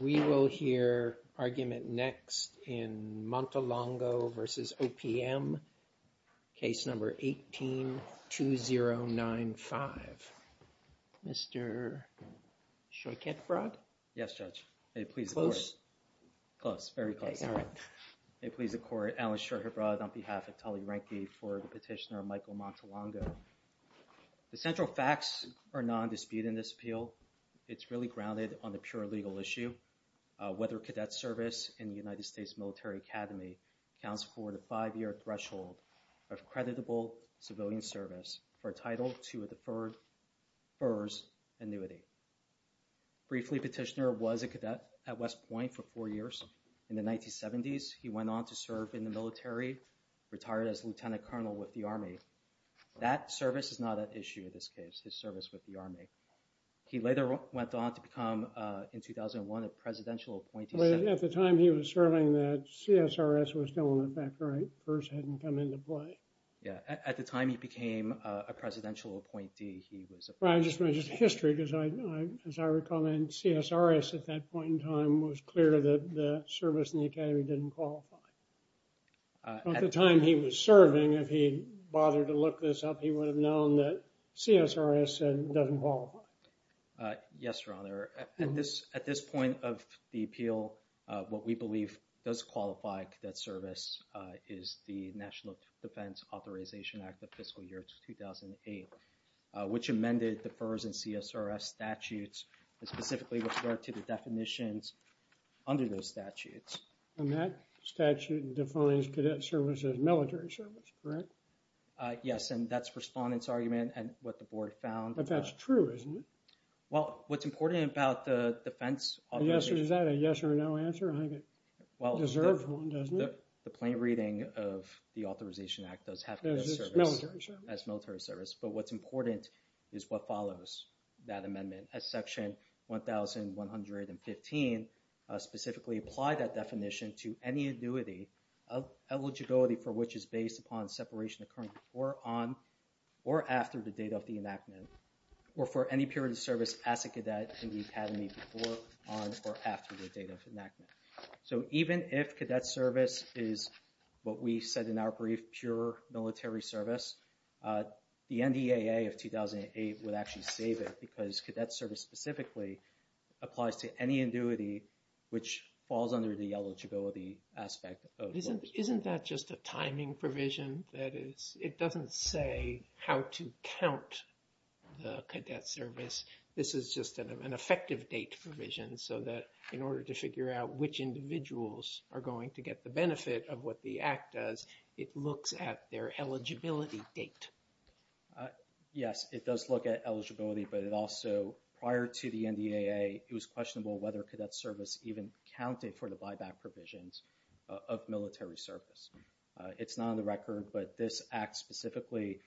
We will hear argument next in Montelongo v. OPM, case number 18-2095. Mr. Shorhibrod? Yes, Judge. May it please the Court. Close? Close, very close. May it please the Court. Alan Shorhibrod on behalf of Tully Rankine for the petitioner Michael Montelongo. The central facts are non-disputing this appeal. It's really grounded on the pure legal issue, whether cadet service in the United States Military Academy counts for the five-year threshold of creditable civilian service for a title to a deferred FERS annuity. Briefly, petitioner was a cadet at West Point for four years. In the 1970s, he went on to serve in the military, retired as lieutenant colonel with the Army. That service is not an issue in this case, his service with the Army. He later went on to become, in 2001, a presidential appointee. At the time he was serving, that CSRS was still in effect, right? FERS hadn't come into play. Yeah. At the time he became a presidential appointee, he was a president. Well, I just want to just history, because as I recall, then CSRS at that point in time was clear that the service in the academy didn't qualify. At the time he was serving, if he bothered to look this up, he would have known that CSRS said it doesn't qualify. Yes, your honor. At this point of the appeal, what we believe does qualify cadet service is the National Defense Authorization Act of fiscal year 2008, which amended the FERS and CSRS statutes that specifically refer to the definitions under those statutes. And that statute defines cadet service as military service, correct? Yes, and that's respondent's argument and what the board found. But that's true, isn't it? Well, what's important about the defense authorization... Yes, or is that a yes or no answer? I think it deserves one, doesn't it? The plain reading of the authorization act does have cadet service... As military service. As military service, but what's important is what follows that amendment. As section 1115 specifically applied that definition to any annuity of eligibility for which is or for any period of service as a cadet in the academy before, on, or after the date of enactment. So even if cadet service is what we said in our brief, pure military service, the NDAA of 2008 would actually save it because cadet service specifically applies to any annuity which falls under the eligibility aspect of... Cadet service, this is just an effective date provision so that in order to figure out which individuals are going to get the benefit of what the act does, it looks at their eligibility date. Yes, it does look at eligibility, but it also, prior to the NDAA, it was questionable whether cadet service even counted for the buyback provisions of military service. It's not on the record, but this act specifically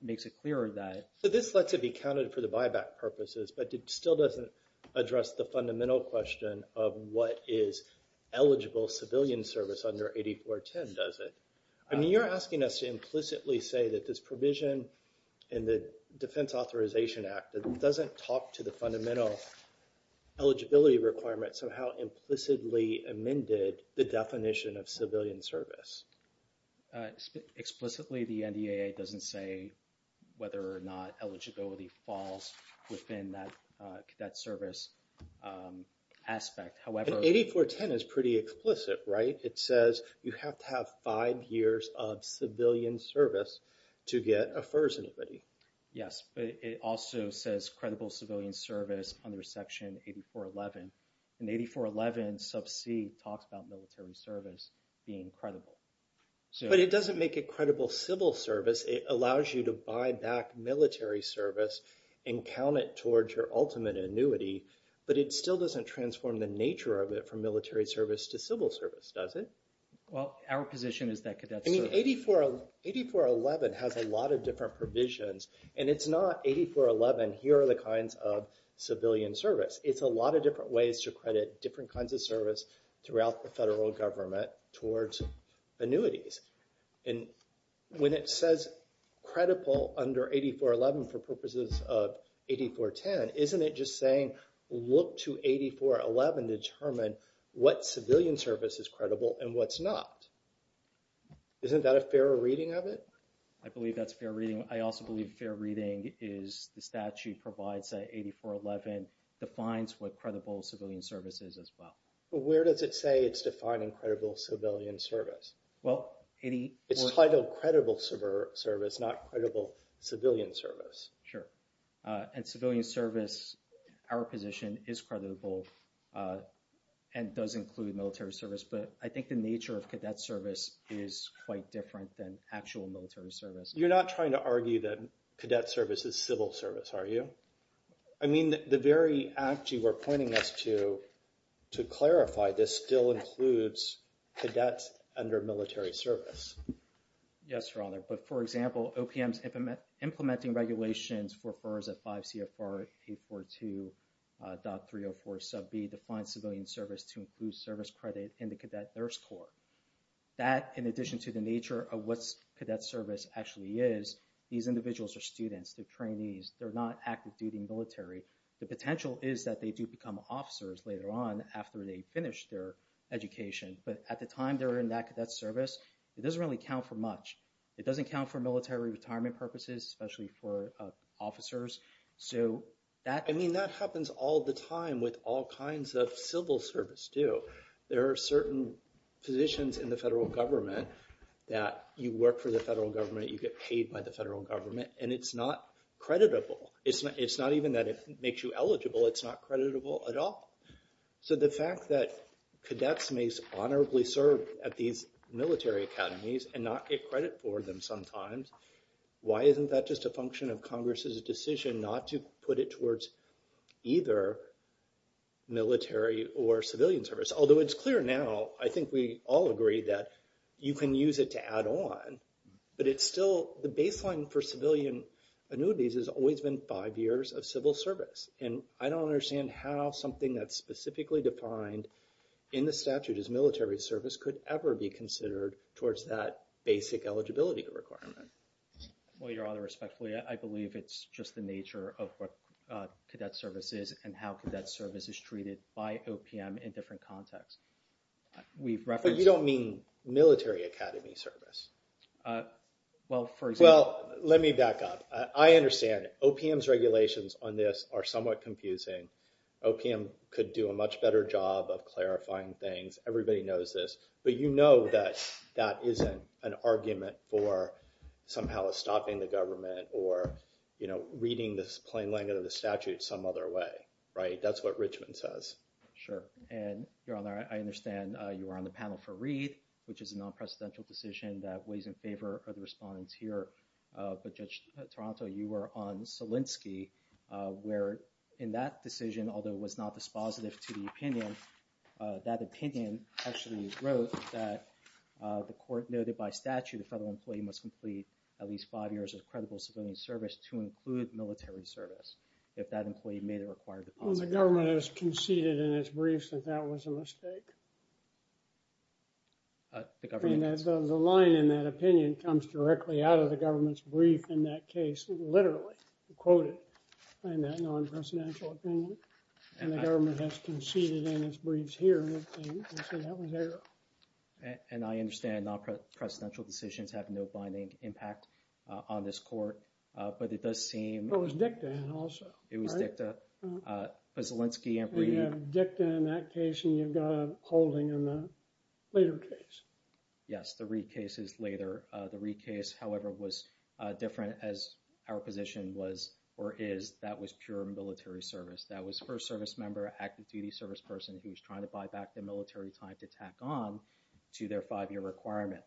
makes it clearer that... This lets it be counted for the buyback purposes, but it still doesn't address the fundamental question of what is eligible civilian service under 8410, does it? I mean, you're asking us to implicitly say that this provision in the Defense Authorization Act doesn't talk to the fundamental eligibility requirements of how implicitly amended the definition of civilian service. Explicitly, the NDAA doesn't say whether or not eligibility falls within that cadet service aspect. However... 8410 is pretty explicit, right? It says you have to have five years of civilian service to get a FERS anybody. Yes, but it also says credible civilian service under Section 8411, and 8411 sub c talks about military service being credible. But it doesn't make it credible civil service. It allows you to buy back military service and count it towards your ultimate annuity, but it still doesn't transform the nature of it from military service to civil service, does it? Well, our position is that cadets... I mean, 8411 has a lot of different provisions, and it's not, here are the kinds of civilian service. It's a lot of different ways to credit different kinds of service throughout the federal government towards annuities. And when it says credible under 8411 for purposes of 8410, isn't it just saying, look to 8411 to determine what civilian service is credible and what's not? Isn't that a fairer reading of it? I believe that's fair reading. I also believe fair reading is the statute provides that 8411 defines what credible civilian service is as well. Where does it say it's defining credible civilian service? Well, 84... It's titled credible civil service, not credible civilian service. Sure. And civilian service, our position is creditable and does include military service, but I think the nature of cadet service is quite different than actual military service. You're not trying to argue that cadet service is civil service, are you? I mean, the very act you were pointing us to, to clarify, this still includes cadets under military service. Yes, Your Honor. But for example, OPM's implementing regulations for FERS at 5 CFR 842.304 sub B defines civilian service to include service credit in the cadet nurse corps. That, in addition to the nature of what cadet service actually is, these individuals are students, they're trainees, they're not active duty military. The potential is that they do become officers later on after they finish their education. But at the time they're in that cadet service, it doesn't really count for much. It doesn't count for military retirement purposes, especially for officers. So that happens all the time with all kinds of civil service too. There are certain positions in the federal government that you work for the federal government, you get paid by the federal government, and it's not creditable. It's not even that it makes you eligible, it's not creditable at all. So the fact that cadets may honorably serve at these military academies and not get credit for them sometimes, why isn't that just a function of Congress's decision not to put it towards either military or civilian service? Although it's clear now, I think we all agree that you can use it to add on, but it's still the baseline for civilian annuities has always been five years of civil service. And I don't understand how something that's specifically defined in the statute as military service could ever be considered towards that basic eligibility requirement. Well, Your Honor, respectfully, I believe it's just the nature of what cadet service is and how cadet service is treated by OPM in different contexts. We've referenced- But you don't mean military academy service. Well, for example- Well, let me back up. I understand OPM's regulations on this are somewhat confusing. OPM could do a much better job of clarifying things. Everybody knows this. But you know that that isn't an argument for somehow stopping the government or reading this plain language of the statute some other way, right? That's what Richmond says. Sure. And Your Honor, I understand you were on the panel for Reed, which is a non-presidential decision that weighs in favor of the respondents here. But Judge Toronto, you were on Solinsky, where in that decision, although it was not dispositive to the opinion, that opinion actually wrote that the court noted by statute the federal employee must complete at least five years of credible civilian service to include military service if that employee made a required deposit. Well, the government has conceded in its briefs that that was a mistake. Uh, the government- The line in that opinion comes directly out of the government's brief in that case, literally quoted in that non-presidential opinion. And the government has conceded in its briefs here. And I understand non-presidential decisions have no binding impact on this court. But it does seem- It was dicta also, right? It was dicta. But Solinsky and Reed- Dicta in that case, and you've got a holding in the later case. Yes, the Reed case is later. The Reed case, however, was different as our position was or is. That was pure military service. That was first service member, active duty service person who's trying to buy back the military time to tack on to their five-year requirement.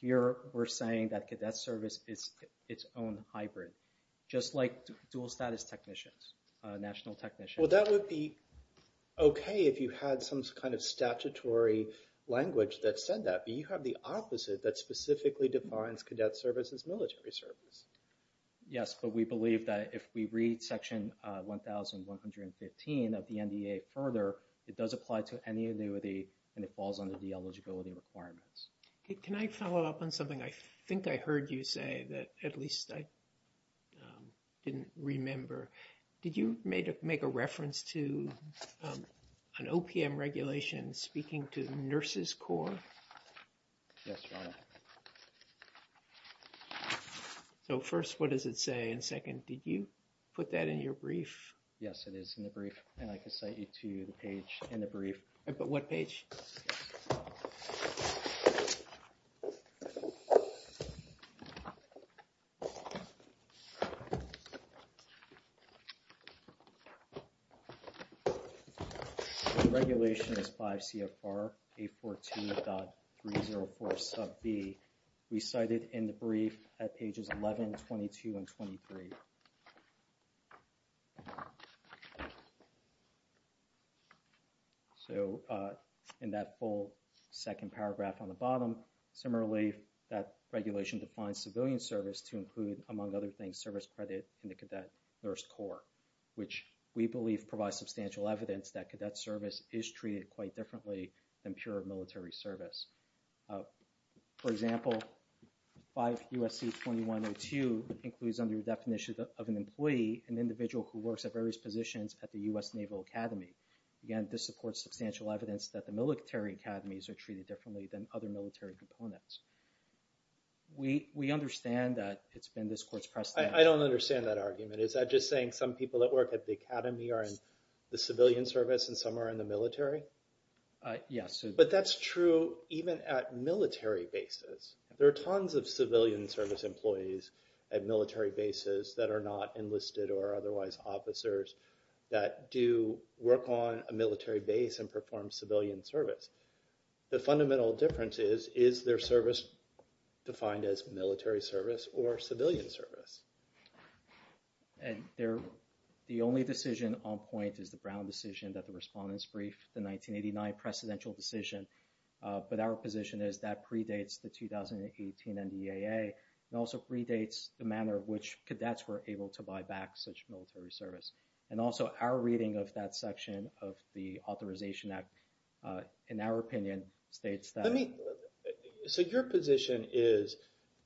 Here, we're saying that cadet service is its own hybrid, just like dual status technicians, national technicians. Well, that would be okay if you had some kind of statutory language that said that. But you have the opposite that specifically defines cadet service as military service. Yes, but we believe that if we read section 1,115 of the NDA further, it does apply to any annuity and it falls under the eligibility requirements. Okay, can I follow up on something? I think I heard you say that, at least I didn't remember. Did you make a reference to an OPM regulation speaking to nurses corps? Yes, Your Honor. So first, what does it say? And second, did you put that in your brief? Yes, it is in the brief, and I can cite you to the page in the brief. But what page? The regulation is 5 CFR 842.304 sub B. We cite it in the brief at pages 11, 22, and 23. So in that full second paragraph on the bottom, similarly, that regulation defines civilian service to include, among other things, service credit in the cadet nurse corps, which we believe provides substantial evidence that cadet service is treated quite differently than pure military service. For example, 5 USC 2102 includes under the definition of an employee, an individual who works at various positions at the U.S. Naval Academy. Again, this supports substantial evidence that the military academies are treated differently than other military components. We understand that it's been this court's precedent. I don't understand that argument. Is that just saying some people that work at the academy are in the civilian service and some are in the military? Yes. But that's true even at military bases. There are tons of civilian service employees at military bases that are not enlisted or otherwise officers that do work on a military base and perform civilian service. The fundamental difference is, is their service defined as military service or civilian service? And the only decision on point is the Brown decision that the respondents briefed, the 1989 precedential decision. But our position is that predates the 2018 NDAA and also predates the manner which cadets were able to buy back such military service. And also our reading of that section of the Authorization Act, in our opinion, states that... Let me, so your position is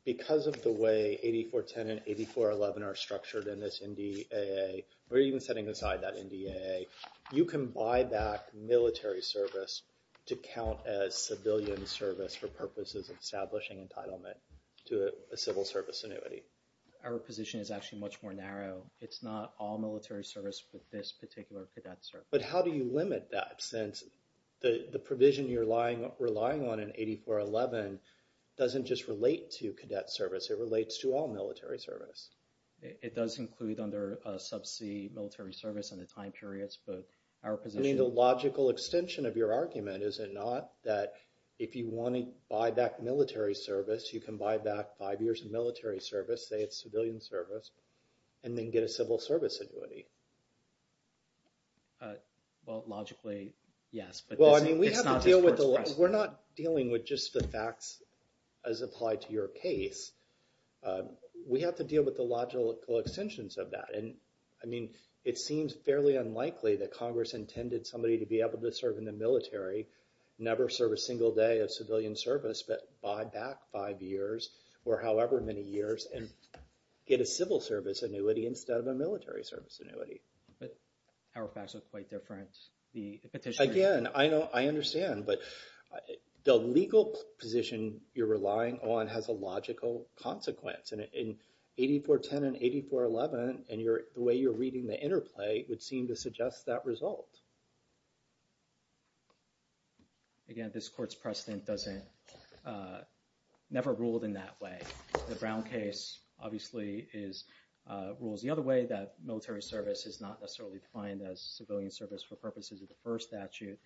because of the way 8410 and 8411 are structured in this NDAA, or even setting aside that NDAA, you can buy back military service to count as civilian service for purposes of establishing entitlement to a civil service annuity. Our position is actually much more narrow. It's not all military service with this particular cadet service. But how do you limit that? Since the provision you're relying on in 8411 doesn't just relate to cadet service, it relates to all military service. It does include under subsea military service and the time periods, but our position... I mean, the logical extension of your argument is it not that if you want to buy back military service, you can buy back five years of military service, say it's civilian service, and then get a civil service annuity. Well, logically, yes. But it's not the first question. We're not dealing with just the facts as applied to your case. We have to deal with the logical extensions of that. And I mean, it seems fairly unlikely that Congress intended somebody to be able to serve in the military, never serve a single day of civilian service, but buy back five years or however many years and get a civil service annuity instead of a military service annuity. But our facts are quite different. Again, I understand. But the legal position you're relying on has a logical consequence. And in 8410 and 8411, the way you're reading the interplay would seem to suggest that result. Again, this court's precedent never ruled in that way. The Brown case, obviously, rules the other way, that military service is not necessarily defined as civilian service for purposes of the first statute.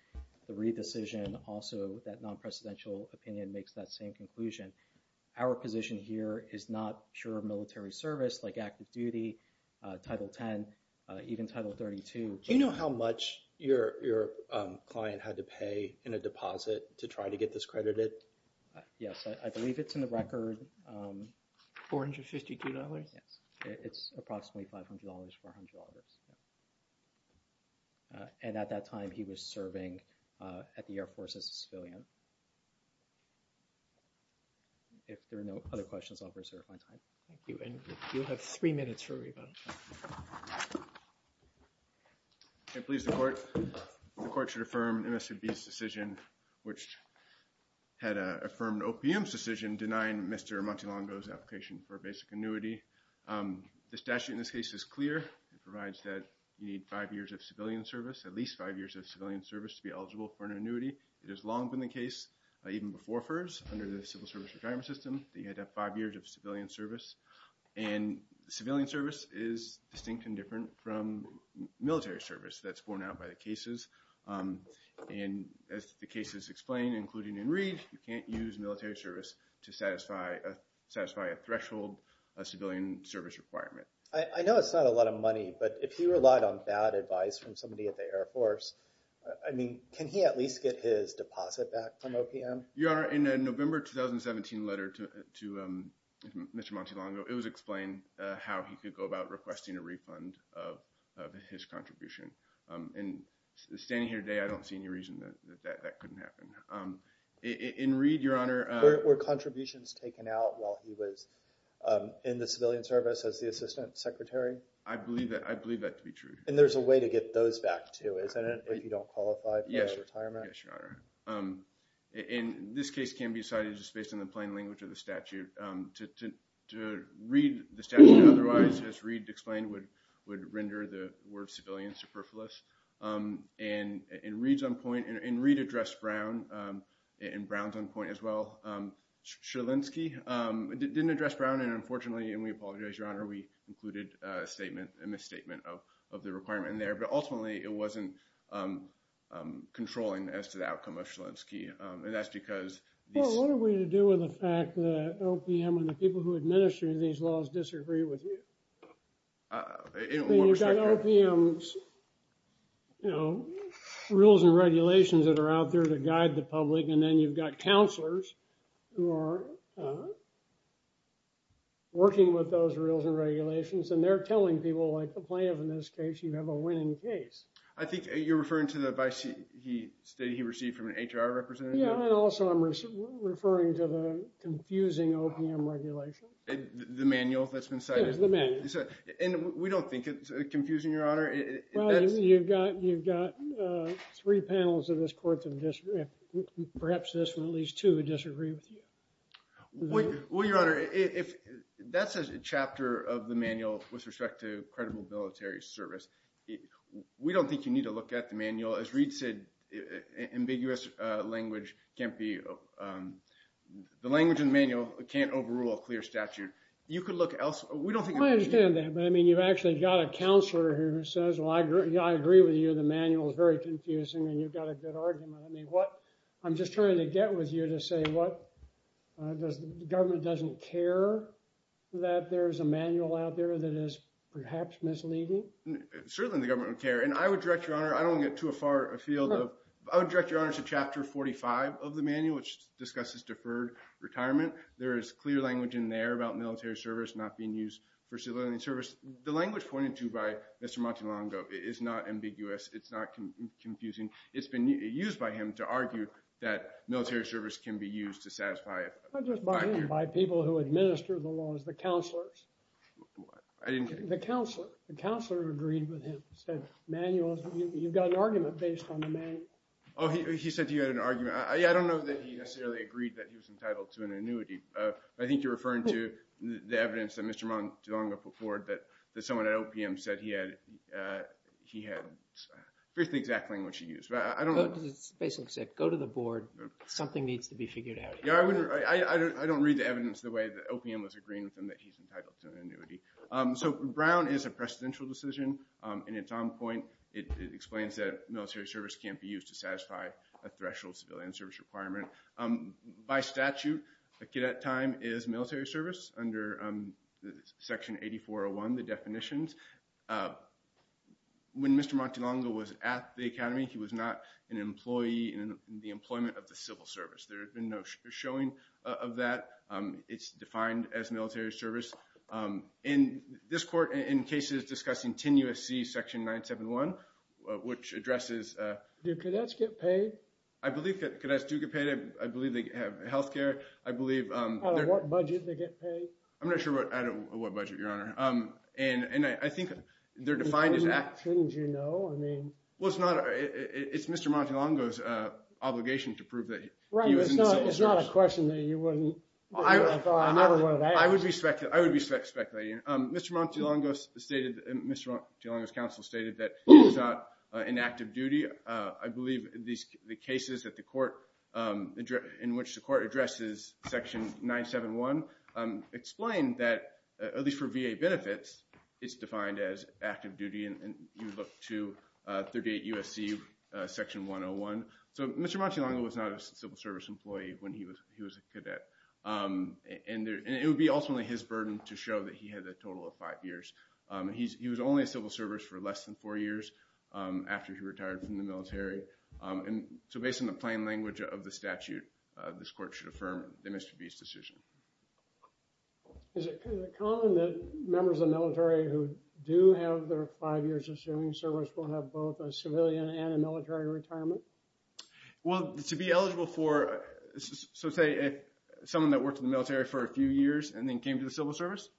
The re-decision also, that non-presidential opinion, makes that same conclusion. Our position here is not pure military service like active duty, Title X, even Title 32. Do you know how much your client had to pay in a deposit to try to get this credited? Yes, I believe it's in the record. $452? Yes, it's approximately $500, $400. And at that time, he was serving at the Air Force as a civilian. If there are no other questions, I'll reserve my time. Thank you. And you'll have three minutes for rebuttal. I please the court. The court should affirm MSCB's decision, which had affirmed OPM's decision, denying Mr. Montelongo's application for a basic annuity. The statute in this case is clear. It provides that you need five years of civilian service, at least five years of civilian service to be eligible for an annuity. It has long been the case, even before FERS, under the Civil Service Retirement System, that you had to have five years of civilian service. And civilian service is distinct and different from military service that's borne out by the cases. And as the case is explained, including in Reed, you can't use military service to satisfy a threshold, a civilian service requirement. I know it's not a lot of money, but if he relied on bad advice from somebody at the Air Force, I mean, can he at least get his deposit back from OPM? Your Honor, in a November 2017 letter to Mr. Montelongo, it was explained how he could go about requesting a refund of his contribution. And standing here today, I don't see any reason that that couldn't happen. In Reed, Your Honor— Were contributions taken out while he was in the civilian service as the assistant secretary? I believe that to be true. And there's a way to get those back too, isn't it, if you don't qualify for retirement? Yes, Your Honor. And this case can be decided just based on the plain language of the statute. To read the statute otherwise, as Reed explained, would render the word civilian superfluous. And in Reed's own point—and Reed addressed Brown, and Brown's own point as well—Sierlinski didn't address Brown. And unfortunately, and we apologize, Your Honor, we included a statement, a misstatement of the requirement in there. But ultimately, it wasn't controlling as to the outcome of Sierlinski. And that's because— Well, what are we to do with the fact that OPM and the people who administer these laws disagree with you? You've got OPM's, you know, rules and regulations that are out there to guide the public. And then you've got counselors who are working with those rules and regulations. And they're telling people, like the plaintiff in this case, you have a winning case. I think you're referring to the advice that he received from an HR representative? Yeah, and also I'm referring to the confusing OPM regulation. The manual that's been cited? Yes, the manual. And we don't think it's confusing, Your Honor. Well, you've got three panels of this Court that disagree—perhaps this one, at least two, disagree with you. Well, Your Honor, that's a chapter of the manual with respect to credible military service. We don't think you need to look at the manual. As Reid said, ambiguous language can't be—the language in the manual can't overrule a clear statute. You could look elsewhere. We don't think— I understand that. But, I mean, you've actually got a counselor here who says, well, I agree with you. The manual is very confusing, and you've got a good argument. I mean, what—I'm just trying to get with you to say what the government doesn't care that there's a manual out there that is perhaps misleading? Certainly the government would care. And I would direct, Your Honor—I don't want to get too far afield. I would direct, Your Honor, to Chapter 45 of the manual, which discusses deferred retirement. There is clear language in there about military service not being used for civilian service. The language pointed to by Mr. Montelongo is not ambiguous. It's not confusing. It's been used by him to argue that military service can be used to satisfy it. Just by him, by people who administer the laws, the counselors. What? I didn't— The counselor. The counselor agreed with him, said manuals—you've got an argument based on the manual. Oh, he said you had an argument. I don't know that he necessarily agreed that he was entitled to an annuity. I think you're referring to the evidence that Mr. Montelongo put forward that someone at OPM said he had—he had written the exact language he used. But I don't know— It basically said, go to the board. Something needs to be figured out. I don't read the evidence the way that OPM was agreeing with him that he's entitled to an annuity. So Brown is a presidential decision, and at some point it explains that military service can't be used to satisfy a threshold civilian service requirement. By statute, a cadet time is military service under Section 8401, the definitions. When Mr. Montelongo was at the academy, he was not an employee in the employment of the civil service. There has been no showing of that. It's defined as military service. In this court, in cases discussing 10 U.S.C. Section 971, which addresses— Do cadets get paid? I believe that cadets do get paid. I believe they have health care. I believe— Out of what budget they get paid? I'm not sure what—out of what budget, Your Honor. And I think they're defined as— Shouldn't you know? I mean— Well, it's not—it's Mr. Montelongo's obligation to prove that— It's not a question that you wouldn't— I would be speculating. Mr. Montelongo stated—Mr. Montelongo's counsel stated that he was not in active duty. I believe the cases that the court—in which the court addresses Section 971 explain that, at least for VA benefits, it's defined as active duty, and you look to 38 U.S.C. Section 101. So Mr. Montelongo was not a civil service employee when he was a cadet, and it would be ultimately his burden to show that he had a total of five years. He was only in civil service for less than four years after he retired from the military, and so based on the plain language of the statute, this court should affirm the misdemeanor's decision. Is it common that members of the military who do have their five years of serving service will have both a civilian and a military retirement? Well, to be eligible for—so say someone that worked in the military for a few years and then came to the civil service,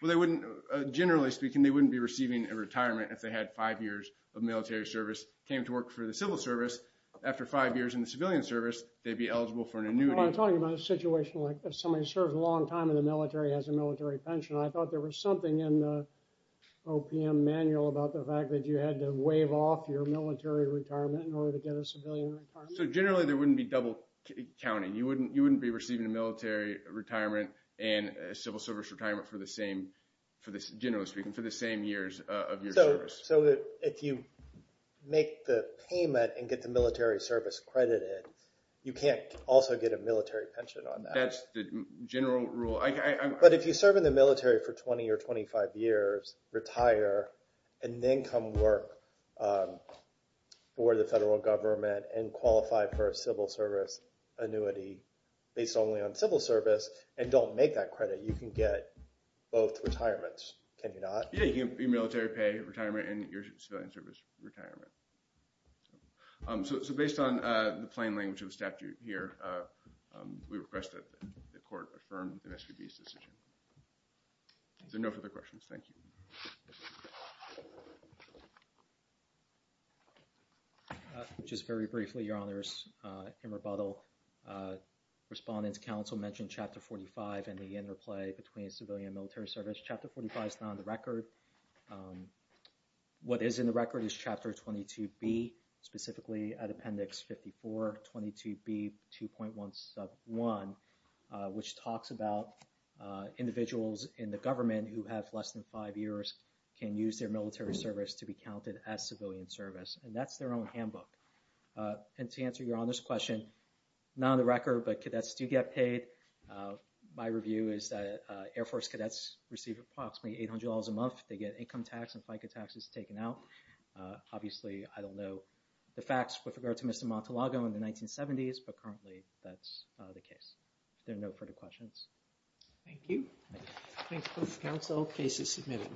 well, they wouldn't—generally speaking, they wouldn't be receiving a retirement if they had five years of military service, came to work for the civil service. After five years in the civilian service, they'd be eligible for an annuity. Well, I'm talking about a situation like somebody who served a long time in the military, has a military pension. I thought there was something in the OPM manual about the fact that you had to So generally, there wouldn't be double counting. You wouldn't be receiving a military retirement and a civil service retirement for the same, generally speaking, for the same years of your service. So if you make the payment and get the military service credited, you can't also get a military pension on that. That's the general rule. But if you serve in the military for 20 or 25 years, retire, and then come work for the federal government and qualify for a civil service annuity based only on civil service and don't make that credit, you can get both retirements. Can you not? Yeah, you can get military pay, retirement, and your civilian service retirement. So based on the plain language of the statute here, we request that the court affirm MSPB's decision. Is there no further questions? Thank you. Just very briefly, Your Honors, in rebuttal, Respondent's counsel mentioned Chapter 45 and the interplay between civilian military service. Chapter 45 is not on the record. What is in the record is Chapter 22B, specifically at Appendix 54, 22B 2.171, which talks about individuals in the government who have less than five years can use their military service to be counted as civilian service. And that's their own handbook. And to answer Your Honor's question, not on the record, but cadets do get paid. My review is that Air Force cadets receive approximately $800 a month. They get income tax and FICA taxes taken out. Obviously, I don't know the facts with regard to Mr. Montalago in the 1970s, but currently that's the case. There are no further questions. Thank you. Thanks, Counsel. Case is submitted.